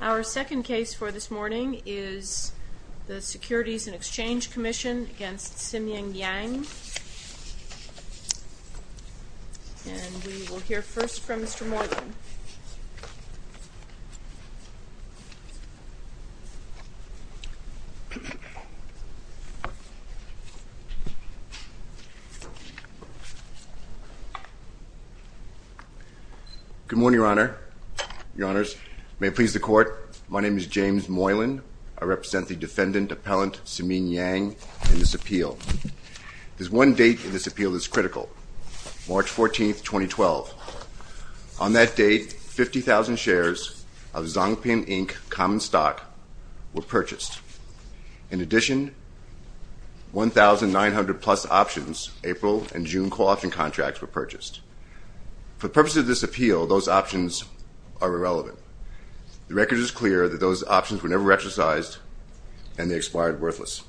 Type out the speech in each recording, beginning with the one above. Our second case for this morning is the Securities and Exchange Commission against Siming Yang. And we will hear first from Mr. Moreland. Good morning, Your Honor, Your Honors. May it please the Court, my name is James Moreland. I represent the defendant, Appellant Siming Yang, in this appeal. There's one date in this appeal that's critical, March 14, 2012. On that date, 50,000 shares of Zongping Inc. common stock were purchased. In addition, 1,900-plus options, April and June co-option contracts, were purchased. For the purposes of this appeal, those options are irrelevant. The record is clear that those options were never exercised, and they expired worthless.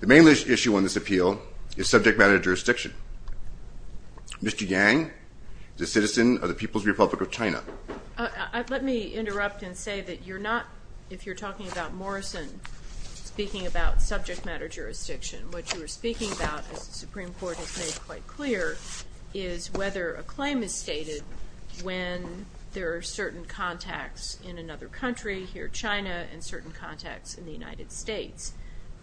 The main issue on this appeal is subject matter jurisdiction. Mr. Yang is a citizen of the People's Republic of China. Let me interrupt and say that you're not, if you're talking about Morrison, speaking about subject matter jurisdiction. What you are speaking about, as the Supreme Court has made quite clear, is whether a claim is stated when there are certain contacts in another country, here China, and certain contacts in the United States.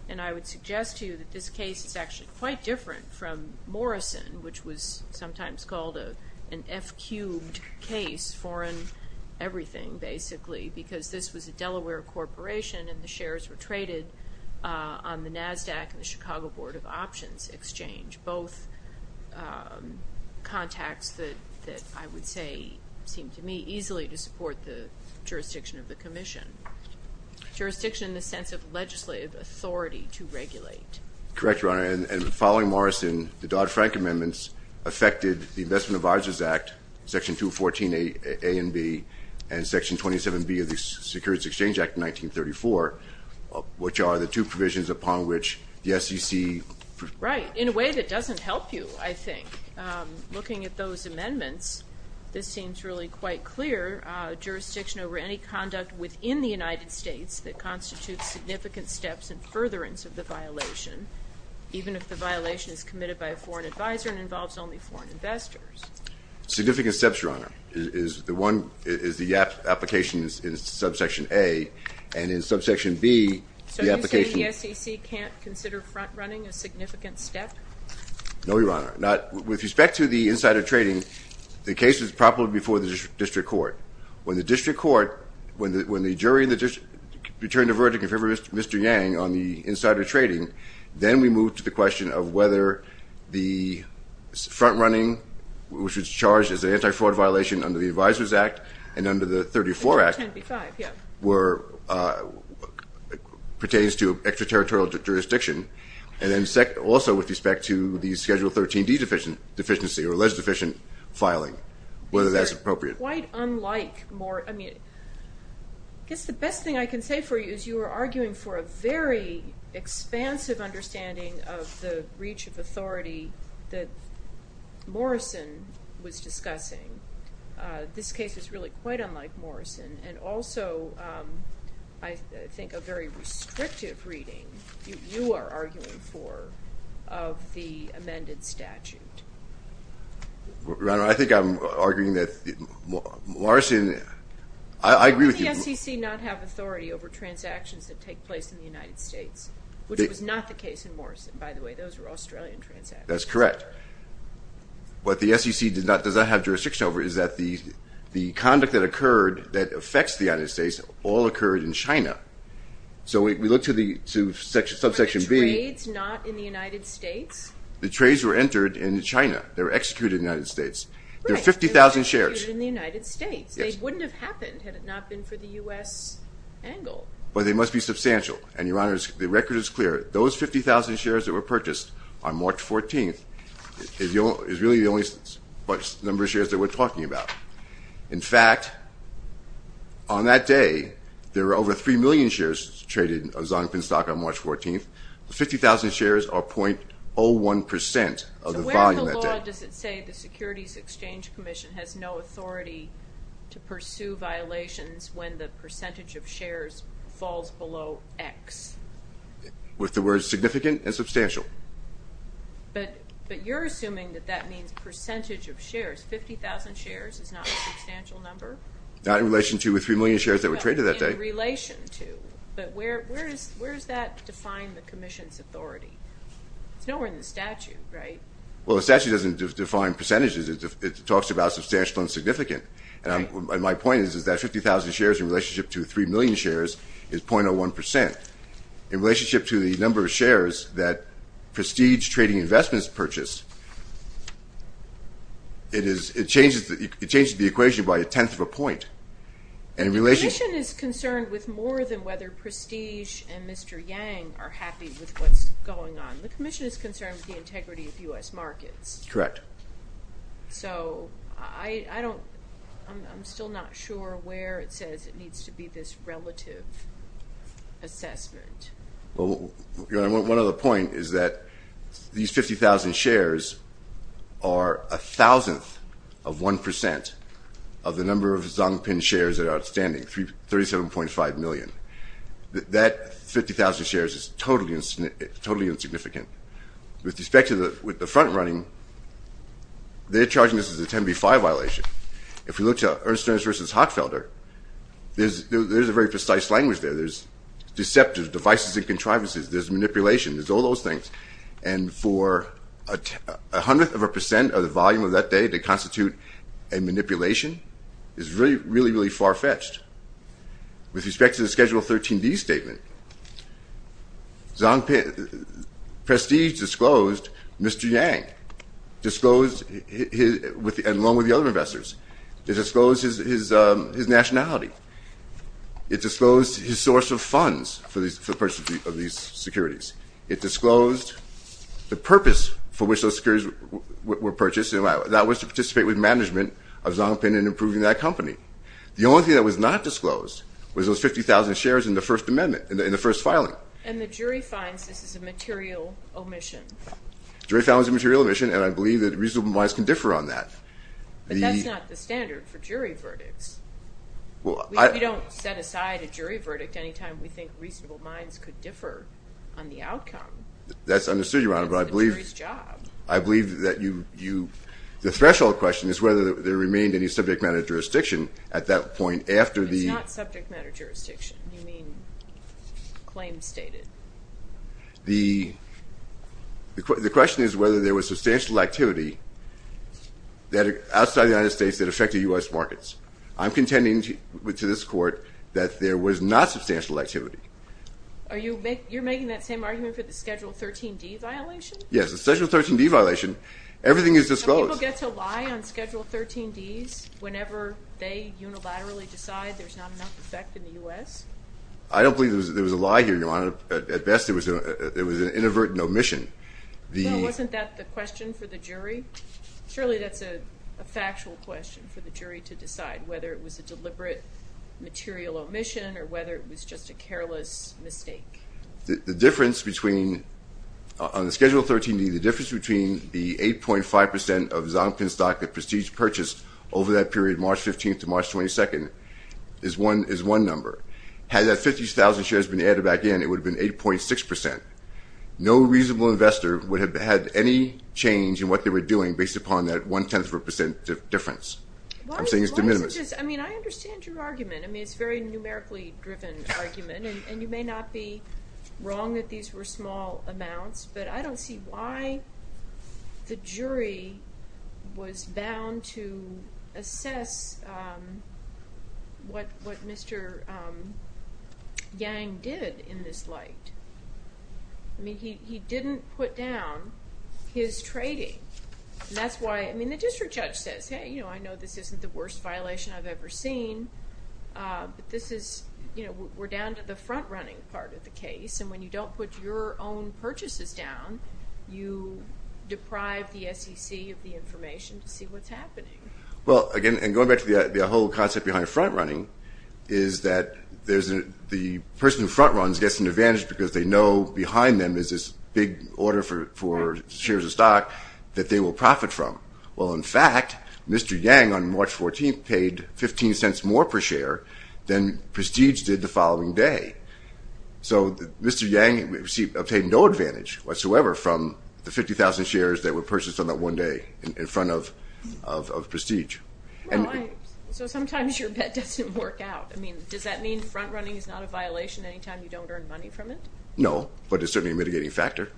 And I would suggest to you that this case is actually quite different from Morrison, which was sometimes called an F-cubed case, foreign everything, basically, because this was a Delaware corporation and the shares were traded on the NASDAQ and the Chicago Board of Options Exchange, both contacts that I would say seemed to me easily to support the jurisdiction of the commission. Jurisdiction in the sense of legislative authority to regulate. Correct, Your Honor, and following Morrison, the Dodd-Frank amendments affected the Investment Advisors Act, Section 214a and b, and Section 27b of the Securities Exchange Act of 1934, which are the two provisions upon which the SEC. Right, in a way that doesn't help you, I think. Looking at those amendments, this seems really quite clear. Jurisdiction over any conduct within the United States that constitutes significant steps and furtherance of the violation, even if the violation is committed by a foreign advisor and involves only foreign investors. Significant steps, Your Honor, is the application in Subsection a, and in Subsection b, the application. So you say the SEC can't consider front-running a significant step? No, Your Honor. With respect to the insider trading, the case was propped up before the district court. When the jury returned a verdict in favor of Mr. Yang on the insider trading, then we moved to the question of whether the front-running, which was charged as an anti-fraud violation under the Advisors Act and under the 34 Act, pertains to extraterritorial jurisdiction. And then also with respect to the Schedule 13D deficiency or alleged deficient filing, whether that's appropriate. It's quite unlike more, I mean, I guess the best thing I can say for you is you were arguing for a very expansive understanding of the reach of authority that Morrison was discussing. This case is really quite unlike Morrison. And also I think a very restrictive reading, you are arguing for, of the amended statute. Your Honor, I think I'm arguing that Morrison, I agree with you. Why did the SEC not have authority over transactions that take place in the United States, which was not the case in Morrison, by the way. Those were Australian transactions. That's correct. What the SEC does not have jurisdiction over is that the conduct that occurred that affects the United States all occurred in China. So we look to Subsection B. Were the trades not in the United States? The trades were entered in China. They were executed in the United States. Right. There are 50,000 shares. They were executed in the United States. Yes. They wouldn't have happened had it not been for the U.S. angle. But they must be substantial. And, Your Honor, the record is clear. Those 50,000 shares that were purchased on March 14th is really the only number of shares that we're talking about. In fact, on that day, there were over 3 million shares traded of Zonkin stock on March 14th. The 50,000 shares are .01% of the volume that day. So where in the law does it say the Securities Exchange Commission has no authority to pursue violations when the percentage of shares falls below X? With the words significant and substantial. But you're assuming that that means percentage of shares. 50,000 shares is not a substantial number? Not in relation to the 3 million shares that were traded that day. In relation to. But where does that define the Commission's authority? It's nowhere in the statute, right? Well, the statute doesn't define percentages. It talks about substantial and significant. And my point is that 50,000 shares in relationship to 3 million shares is .01%. In relationship to the number of shares that Prestige Trading Investments purchased, it changes the equation by a tenth of a point. The Commission is concerned with more than whether Prestige and Mr. Yang are happy with what's going on. The Commission is concerned with the integrity of U.S. markets. Correct. So I'm still not sure where it says it needs to be this relative assessment. One other point is that these 50,000 shares are a thousandth of 1% of the number of Zongpin shares that are outstanding, 37.5 million. That 50,000 shares is totally insignificant. With respect to the front running, they're charging this as a 10B5 violation. If we look to Ernst & Ernst v. Hockfelder, there's a very precise language there. There's deceptive devices and contrivances. There's manipulation. There's all those things. And for a hundredth of a percent of the volume of that day to constitute a manipulation is really, really far-fetched. With respect to the Schedule 13D statement, Prestige disclosed Mr. Yang along with the other investors. It disclosed his nationality. It disclosed his source of funds for the purchase of these securities. It disclosed the purpose for which those securities were purchased. That was to participate with management of Zongpin in improving that company. The only thing that was not disclosed was those 50,000 shares in the First Amendment, in the first filing. And the jury finds this is a material omission. The jury found it was a material omission, and I believe that reasonable minds can differ on that. But that's not the standard for jury verdicts. We don't set aside a jury verdict any time we think reasonable minds could differ on the outcome. That's understood, Your Honor, but I believe that you – the threshold question is whether there remained any subject matter jurisdiction at that point after the – It's not subject matter jurisdiction. You mean claims stated. The question is whether there was substantial activity outside the United States that affected U.S. markets. I'm contending to this Court that there was not substantial activity. Are you – you're making that same argument for the Schedule 13D violation? Yes, the Schedule 13D violation. Everything is disclosed. Do people get to lie on Schedule 13Ds whenever they unilaterally decide there's not enough effect in the U.S.? I don't believe there was a lie here, Your Honor. At best, it was an inadvertent omission. Well, wasn't that the question for the jury? Surely that's a factual question for the jury to decide, whether it was a deliberate material omission or whether it was just a careless mistake. The difference between – on the Schedule 13D, the difference between the 8.5 percent of Zonkin stock that Prestige purchased over that period, March 15th to March 22nd, is one number. Had that 50,000 shares been added back in, it would have been 8.6 percent. No reasonable investor would have had any change in what they were doing based upon that one-tenth of a percent difference. I'm saying it's de minimis. Why is it just – I mean, I understand your argument. I mean, it's a very numerically driven argument, and you may not be wrong that these were small amounts, but I don't see why the jury was bound to assess what Mr. Yang did in this light. I mean, he didn't put down his trading. And that's why – I mean, the district judge says, hey, you know, I know this isn't the worst violation I've ever seen, but this is – you know, we're down to the front-running part of the case, and when you don't put your own purchases down, you deprive the SEC of the information to see what's happening. Well, again, and going back to the whole concept behind front-running is that the person who front-runs gets an advantage because they know behind them is this big order for shares of stock that they will profit from. Well, in fact, Mr. Yang on March 14th paid 15 cents more per share than Prestige did the following day. So Mr. Yang obtained no advantage whatsoever from the 50,000 shares that were purchased on that one day in front of Prestige. So sometimes your bet doesn't work out. I mean, does that mean front-running is not a violation anytime you don't earn money from it? No, but it's certainly a mitigating factor.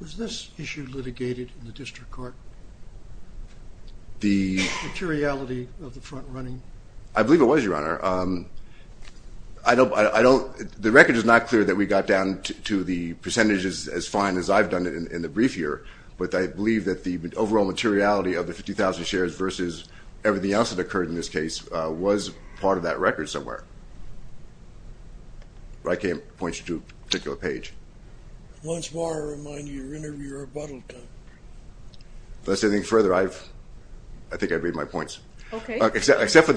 Was this issue litigated in the district court, the materiality of the front-running? I believe it was, Your Honor. I don't – the record is not clear that we got down to the percentages as fine as I've done in the brief here, but I believe that the overall materiality of the 50,000 shares versus everything else that occurred in this case was part of that record somewhere. I can't point you to a particular page. Once more, I remind you, you're in your rebuttal time. Except for the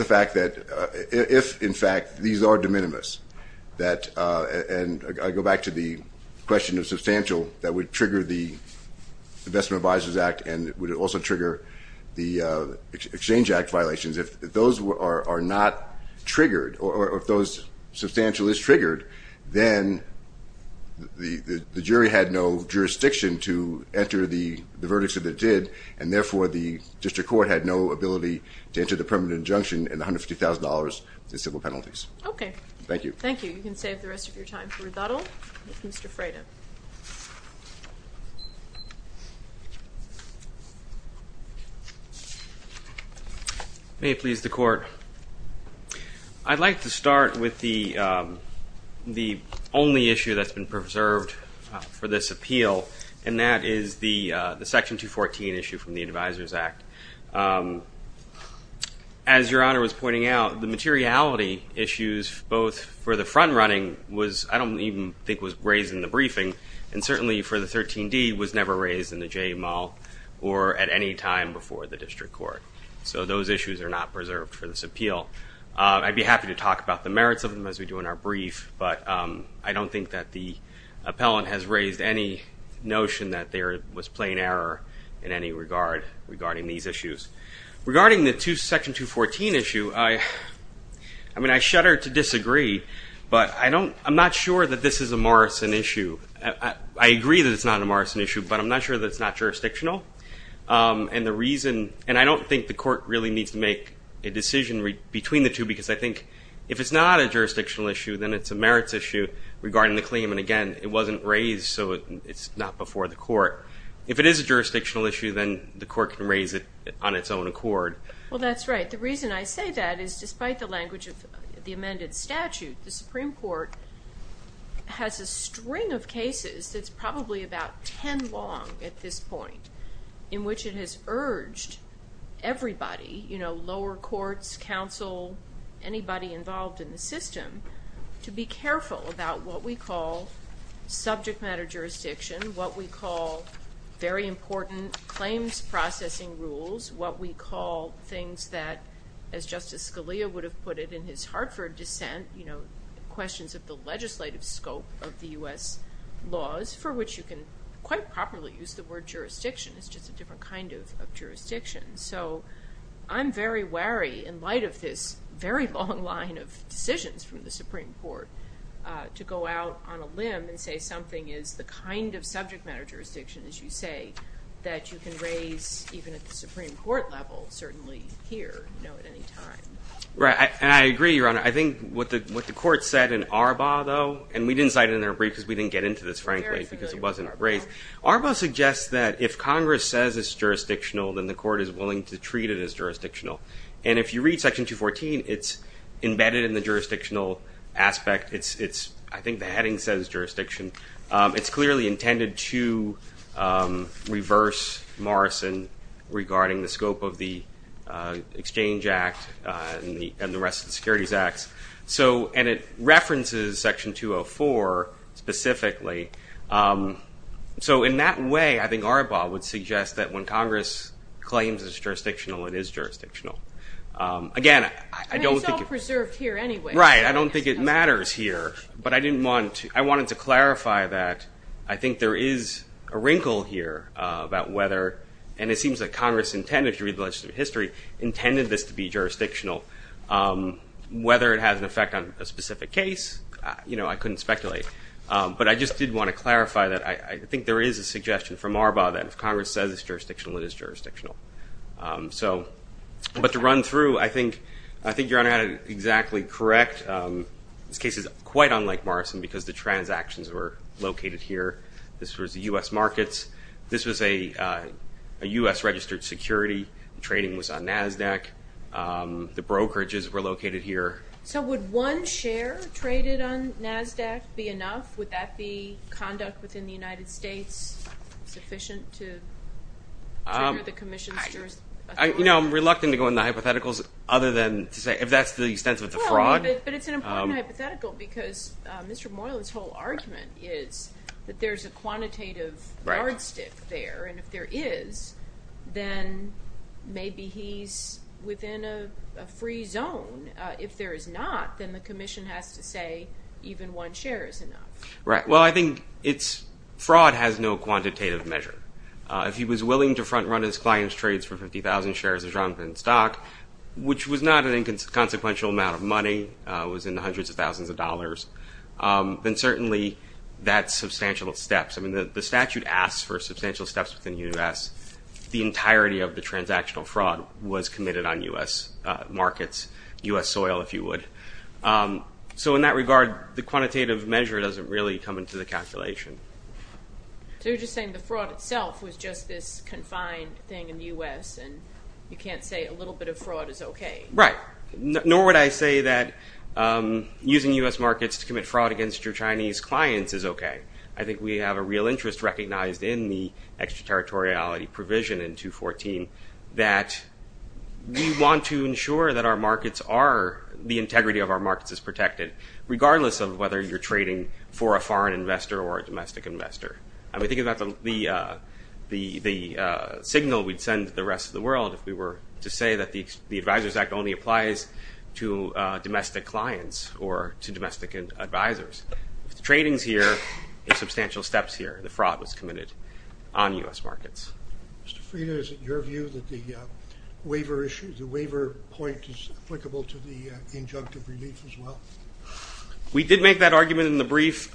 fact that if, in fact, these are de minimis, and I go back to the question of substantial that would trigger the Investment Advisors Act and would also trigger the Exchange Act violations, if those are not triggered or if those substantial is triggered, then the jury had no jurisdiction to enter the verdicts that it did, and therefore the district court had no ability to enter the permanent injunction and $150,000 in civil penalties. Okay. Thank you. Thank you. You can save the rest of your time for rebuttal. Mr. Frayden. May it please the Court. I'd like to start with the only issue that's been preserved for this appeal, and that is the Section 214 issue from the Advisors Act. As Your Honor was pointing out, the materiality issues both for the front-running was, I don't even think was raised in the briefing, and certainly for the 13D was never raised in the JML or at any time before the district court. So those issues are not preserved for this appeal. I'd be happy to talk about the merits of them as we do in our brief, but I don't think that the appellant has raised any notion that there was plain error in any regard regarding these issues. Regarding the Section 214 issue, I shudder to disagree, but I'm not sure that this is a Morrison issue. I agree that it's not a Morrison issue, but I'm not sure that it's not jurisdictional, and I don't think the court really needs to make a decision between the two because I think if it's not a jurisdictional issue, then it's a merits issue regarding the claim, and again, it wasn't raised, so it's not before the court. If it is a jurisdictional issue, then the court can raise it on its own accord. Well, that's right. The reason I say that is despite the language of the amended statute, the Supreme Court has a string of cases that's probably about 10 long at this point in which it has urged everybody, lower courts, counsel, anybody involved in the system, to be careful about what we call subject matter jurisdiction, what we call very important claims processing rules, what we call things that, as Justice Scalia would have put it in his Hartford dissent, questions of the legislative scope of the U.S. laws for which you can quite properly use the word jurisdiction. It's just a different kind of jurisdiction. So I'm very wary in light of this very long line of decisions from the Supreme Court to go out on a limb and say something is the kind of subject matter jurisdiction, as you say, that you can raise even at the Supreme Court level certainly here at any time. Right, and I agree, Your Honor. I think what the court said in Arbaugh, though, and we didn't cite it in our brief because we didn't get into this, frankly, because it wasn't raised. Arbaugh suggests that if Congress says it's jurisdictional, then the court is willing to treat it as jurisdictional. And if you read Section 214, it's embedded in the jurisdictional aspect. I think the heading says jurisdiction. It's clearly intended to reverse Morrison regarding the scope of the Exchange Act and the rest of the Securities Acts. And it references Section 204 specifically. So in that way, I think Arbaugh would suggest that when Congress claims it's jurisdictional, it is jurisdictional. Again, I don't think it matters here. But I wanted to clarify that I think there is a wrinkle here about whether and it seems that Congress intended, if you read the legislative history, intended this to be jurisdictional. Whether it has an effect on a specific case, I couldn't speculate. But I just did want to clarify that I think there is a suggestion from Arbaugh that if Congress says it's jurisdictional, it is jurisdictional. But to run through, I think Your Honor had it exactly correct. This case is quite unlike Morrison because the transactions were located here. This was the U.S. markets. This was a U.S. registered security. The trading was on NASDAQ. The brokerages were located here. So would one share traded on NASDAQ be enough? Would that be conduct within the United States sufficient to trigger the commission's jurisdiction? I'm reluctant to go into hypotheticals other than to say if that's the extent of the fraud. But it's an important hypothetical because Mr. Morland's whole argument is that there's a quantitative yardstick there. And if there is, then maybe he's within a free zone. If there is not, then the commission has to say even one share is enough. Well, I think fraud has no quantitative measure. If he was willing to front run his client's trades for 50,000 shares of Jonathan's stock, which was not an inconsequential amount of money, was in the hundreds of thousands of dollars, then certainly that's substantial steps. I mean the statute asks for substantial steps within the U.S. The entirety of the transactional fraud was committed on U.S. markets, U.S. soil if you would. So in that regard, the quantitative measure doesn't really come into the calculation. So you're just saying the fraud itself was just this confined thing in the U.S. and you can't say a little bit of fraud is okay. Right, nor would I say that using U.S. markets to commit fraud against your Chinese clients is okay. I think we have a real interest recognized in the extraterritoriality provision in 214 that we want to ensure that our markets are the integrity of our markets is protected, regardless of whether you're trading for a foreign investor or a domestic investor. I mean think about the signal we'd send to the rest of the world if we were to say that the Advisors Act only applies to domestic clients or to domestic advisors. If the trading's here, there's substantial steps here. The fraud was committed on U.S. markets. Mr. Frieda, is it your view that the waiver point is applicable to the injunctive relief as well? We did make that argument in the brief.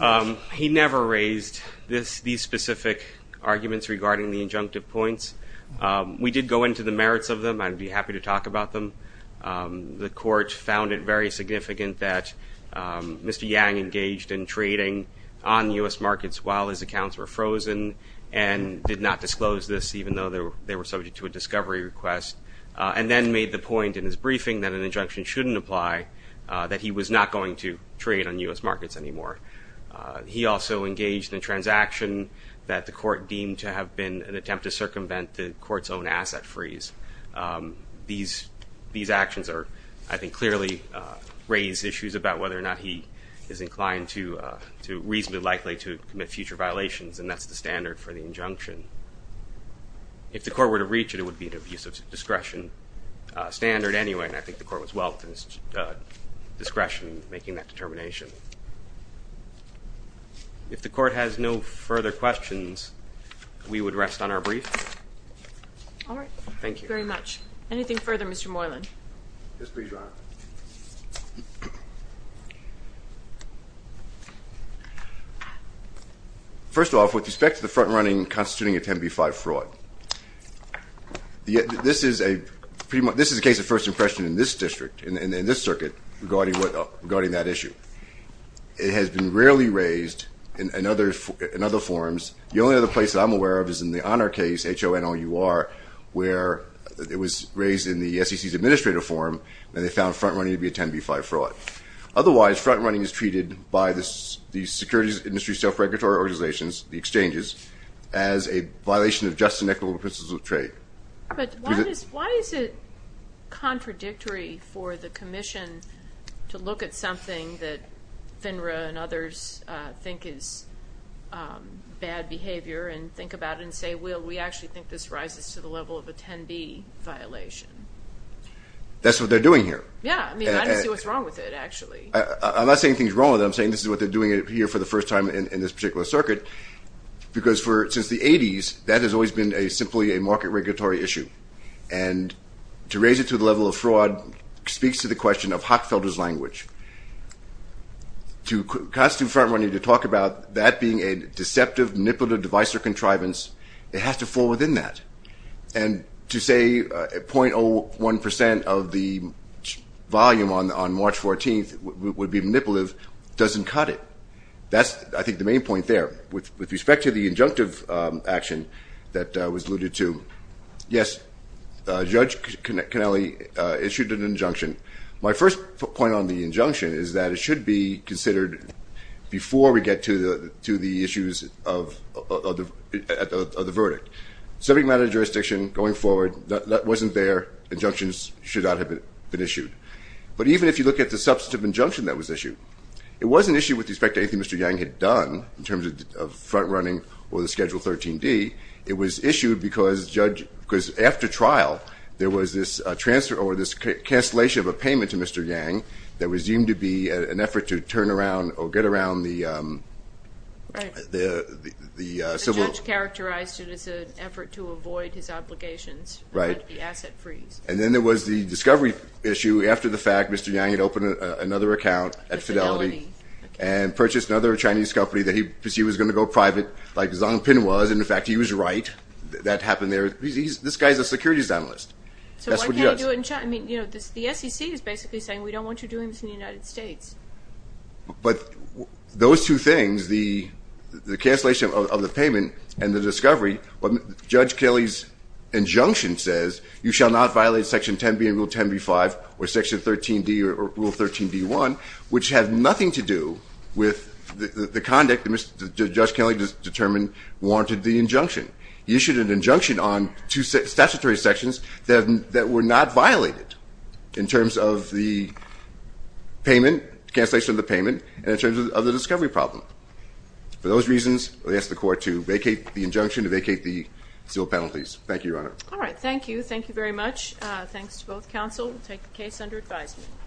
He never raised these specific arguments regarding the injunctive points. We did go into the merits of them. I'd be happy to talk about them. The court found it very significant that Mr. Yang engaged in trading on U.S. markets while his accounts were frozen and did not disclose this even though they were subject to a discovery request and then made the point in his briefing that an injunction shouldn't apply, that he was not going to trade on U.S. markets anymore. He also engaged in a transaction that the court deemed to have been an attempt to circumvent the court's own asset freeze. These actions, I think, clearly raise issues about whether or not he is inclined to, reasonably likely to commit future violations, and that's the standard for the injunction. If the court were to reach it, it would be an abusive discretion standard anyway, and I think the court was well at his discretion in making that determination. If the court has no further questions, we would rest on our brief. All right. Thank you. Thank you very much. Yes, please, Your Honor. First off, with respect to the front-running constituting a 10b-5 fraud, this is a case of first impression in this district, in this circuit, regarding that issue. It has been rarely raised in other forms. The only other place that I'm aware of is in the Honor case, H-O-N-O-U-R, where it was raised in the SEC's administrative forum, and they found front-running to be a 10b-5 fraud. Otherwise, front-running is treated by the security industry self-regulatory organizations, the exchanges, as a violation of just and equitable principles of trade. But why is it contradictory for the commission to look at something that FINRA and others think is bad behavior and think about it and say, well, we actually think this rises to the level of a 10b violation? That's what they're doing here. Yeah. I mean, I don't see what's wrong with it, actually. I'm not saying anything's wrong with it. I'm saying this is what they're doing here for the first time in this particular circuit, because since the 80s, that has always been simply a market regulatory issue. And to raise it to the level of fraud speaks to the question of Hockfelder's language. To constitute front-running to talk about that being a deceptive manipulative device or contrivance, it has to fall within that. And to say 0.01% of the volume on March 14th would be manipulative doesn't cut it. That's, I think, the main point there with respect to the injunctive action that was alluded to. Yes, Judge Cannelli issued an injunction. My first point on the injunction is that it should be considered before we get to the issues of the verdict. Subject matter of jurisdiction going forward, that wasn't there. Injunctions should not have been issued. But even if you look at the substantive injunction that was issued, it wasn't issued with respect to anything Mr. Yang had done in terms of front-running or the Schedule 13D. It was issued because, after trial, there was this transfer or this cancellation of a payment to Mr. Yang that was deemed to be an effort to turn around or get around the civil law. The judge characterized it as an effort to avoid his obligations. Right. The asset freeze. And then there was the discovery issue after the fact. Mr. Yang had opened another account at Fidelity and purchased another Chinese company that he perceived was going to go private, like Zhang Pin was. And, in fact, he was right. That happened there. This guy's a securities analyst. So why can't he do it in China? I mean, you know, the SEC is basically saying, we don't want you doing this in the United States. But those two things, the cancellation of the payment and the discovery, Judge Kelly's injunction says, you shall not violate Section 10B and Rule 10B-5 or Section 13D or Rule 13D-1, which have nothing to do with the conduct that Judge Kelly determined warranted the injunction. He issued an injunction on two statutory sections that were not violated in terms of the payment, cancellation of the payment, and in terms of the discovery problem. For those reasons, I ask the Court to vacate the injunction and vacate the civil penalties. Thank you, Your Honor. All right. Thank you. Thank you very much. Thanks to both counsel. We'll take the case under advisement.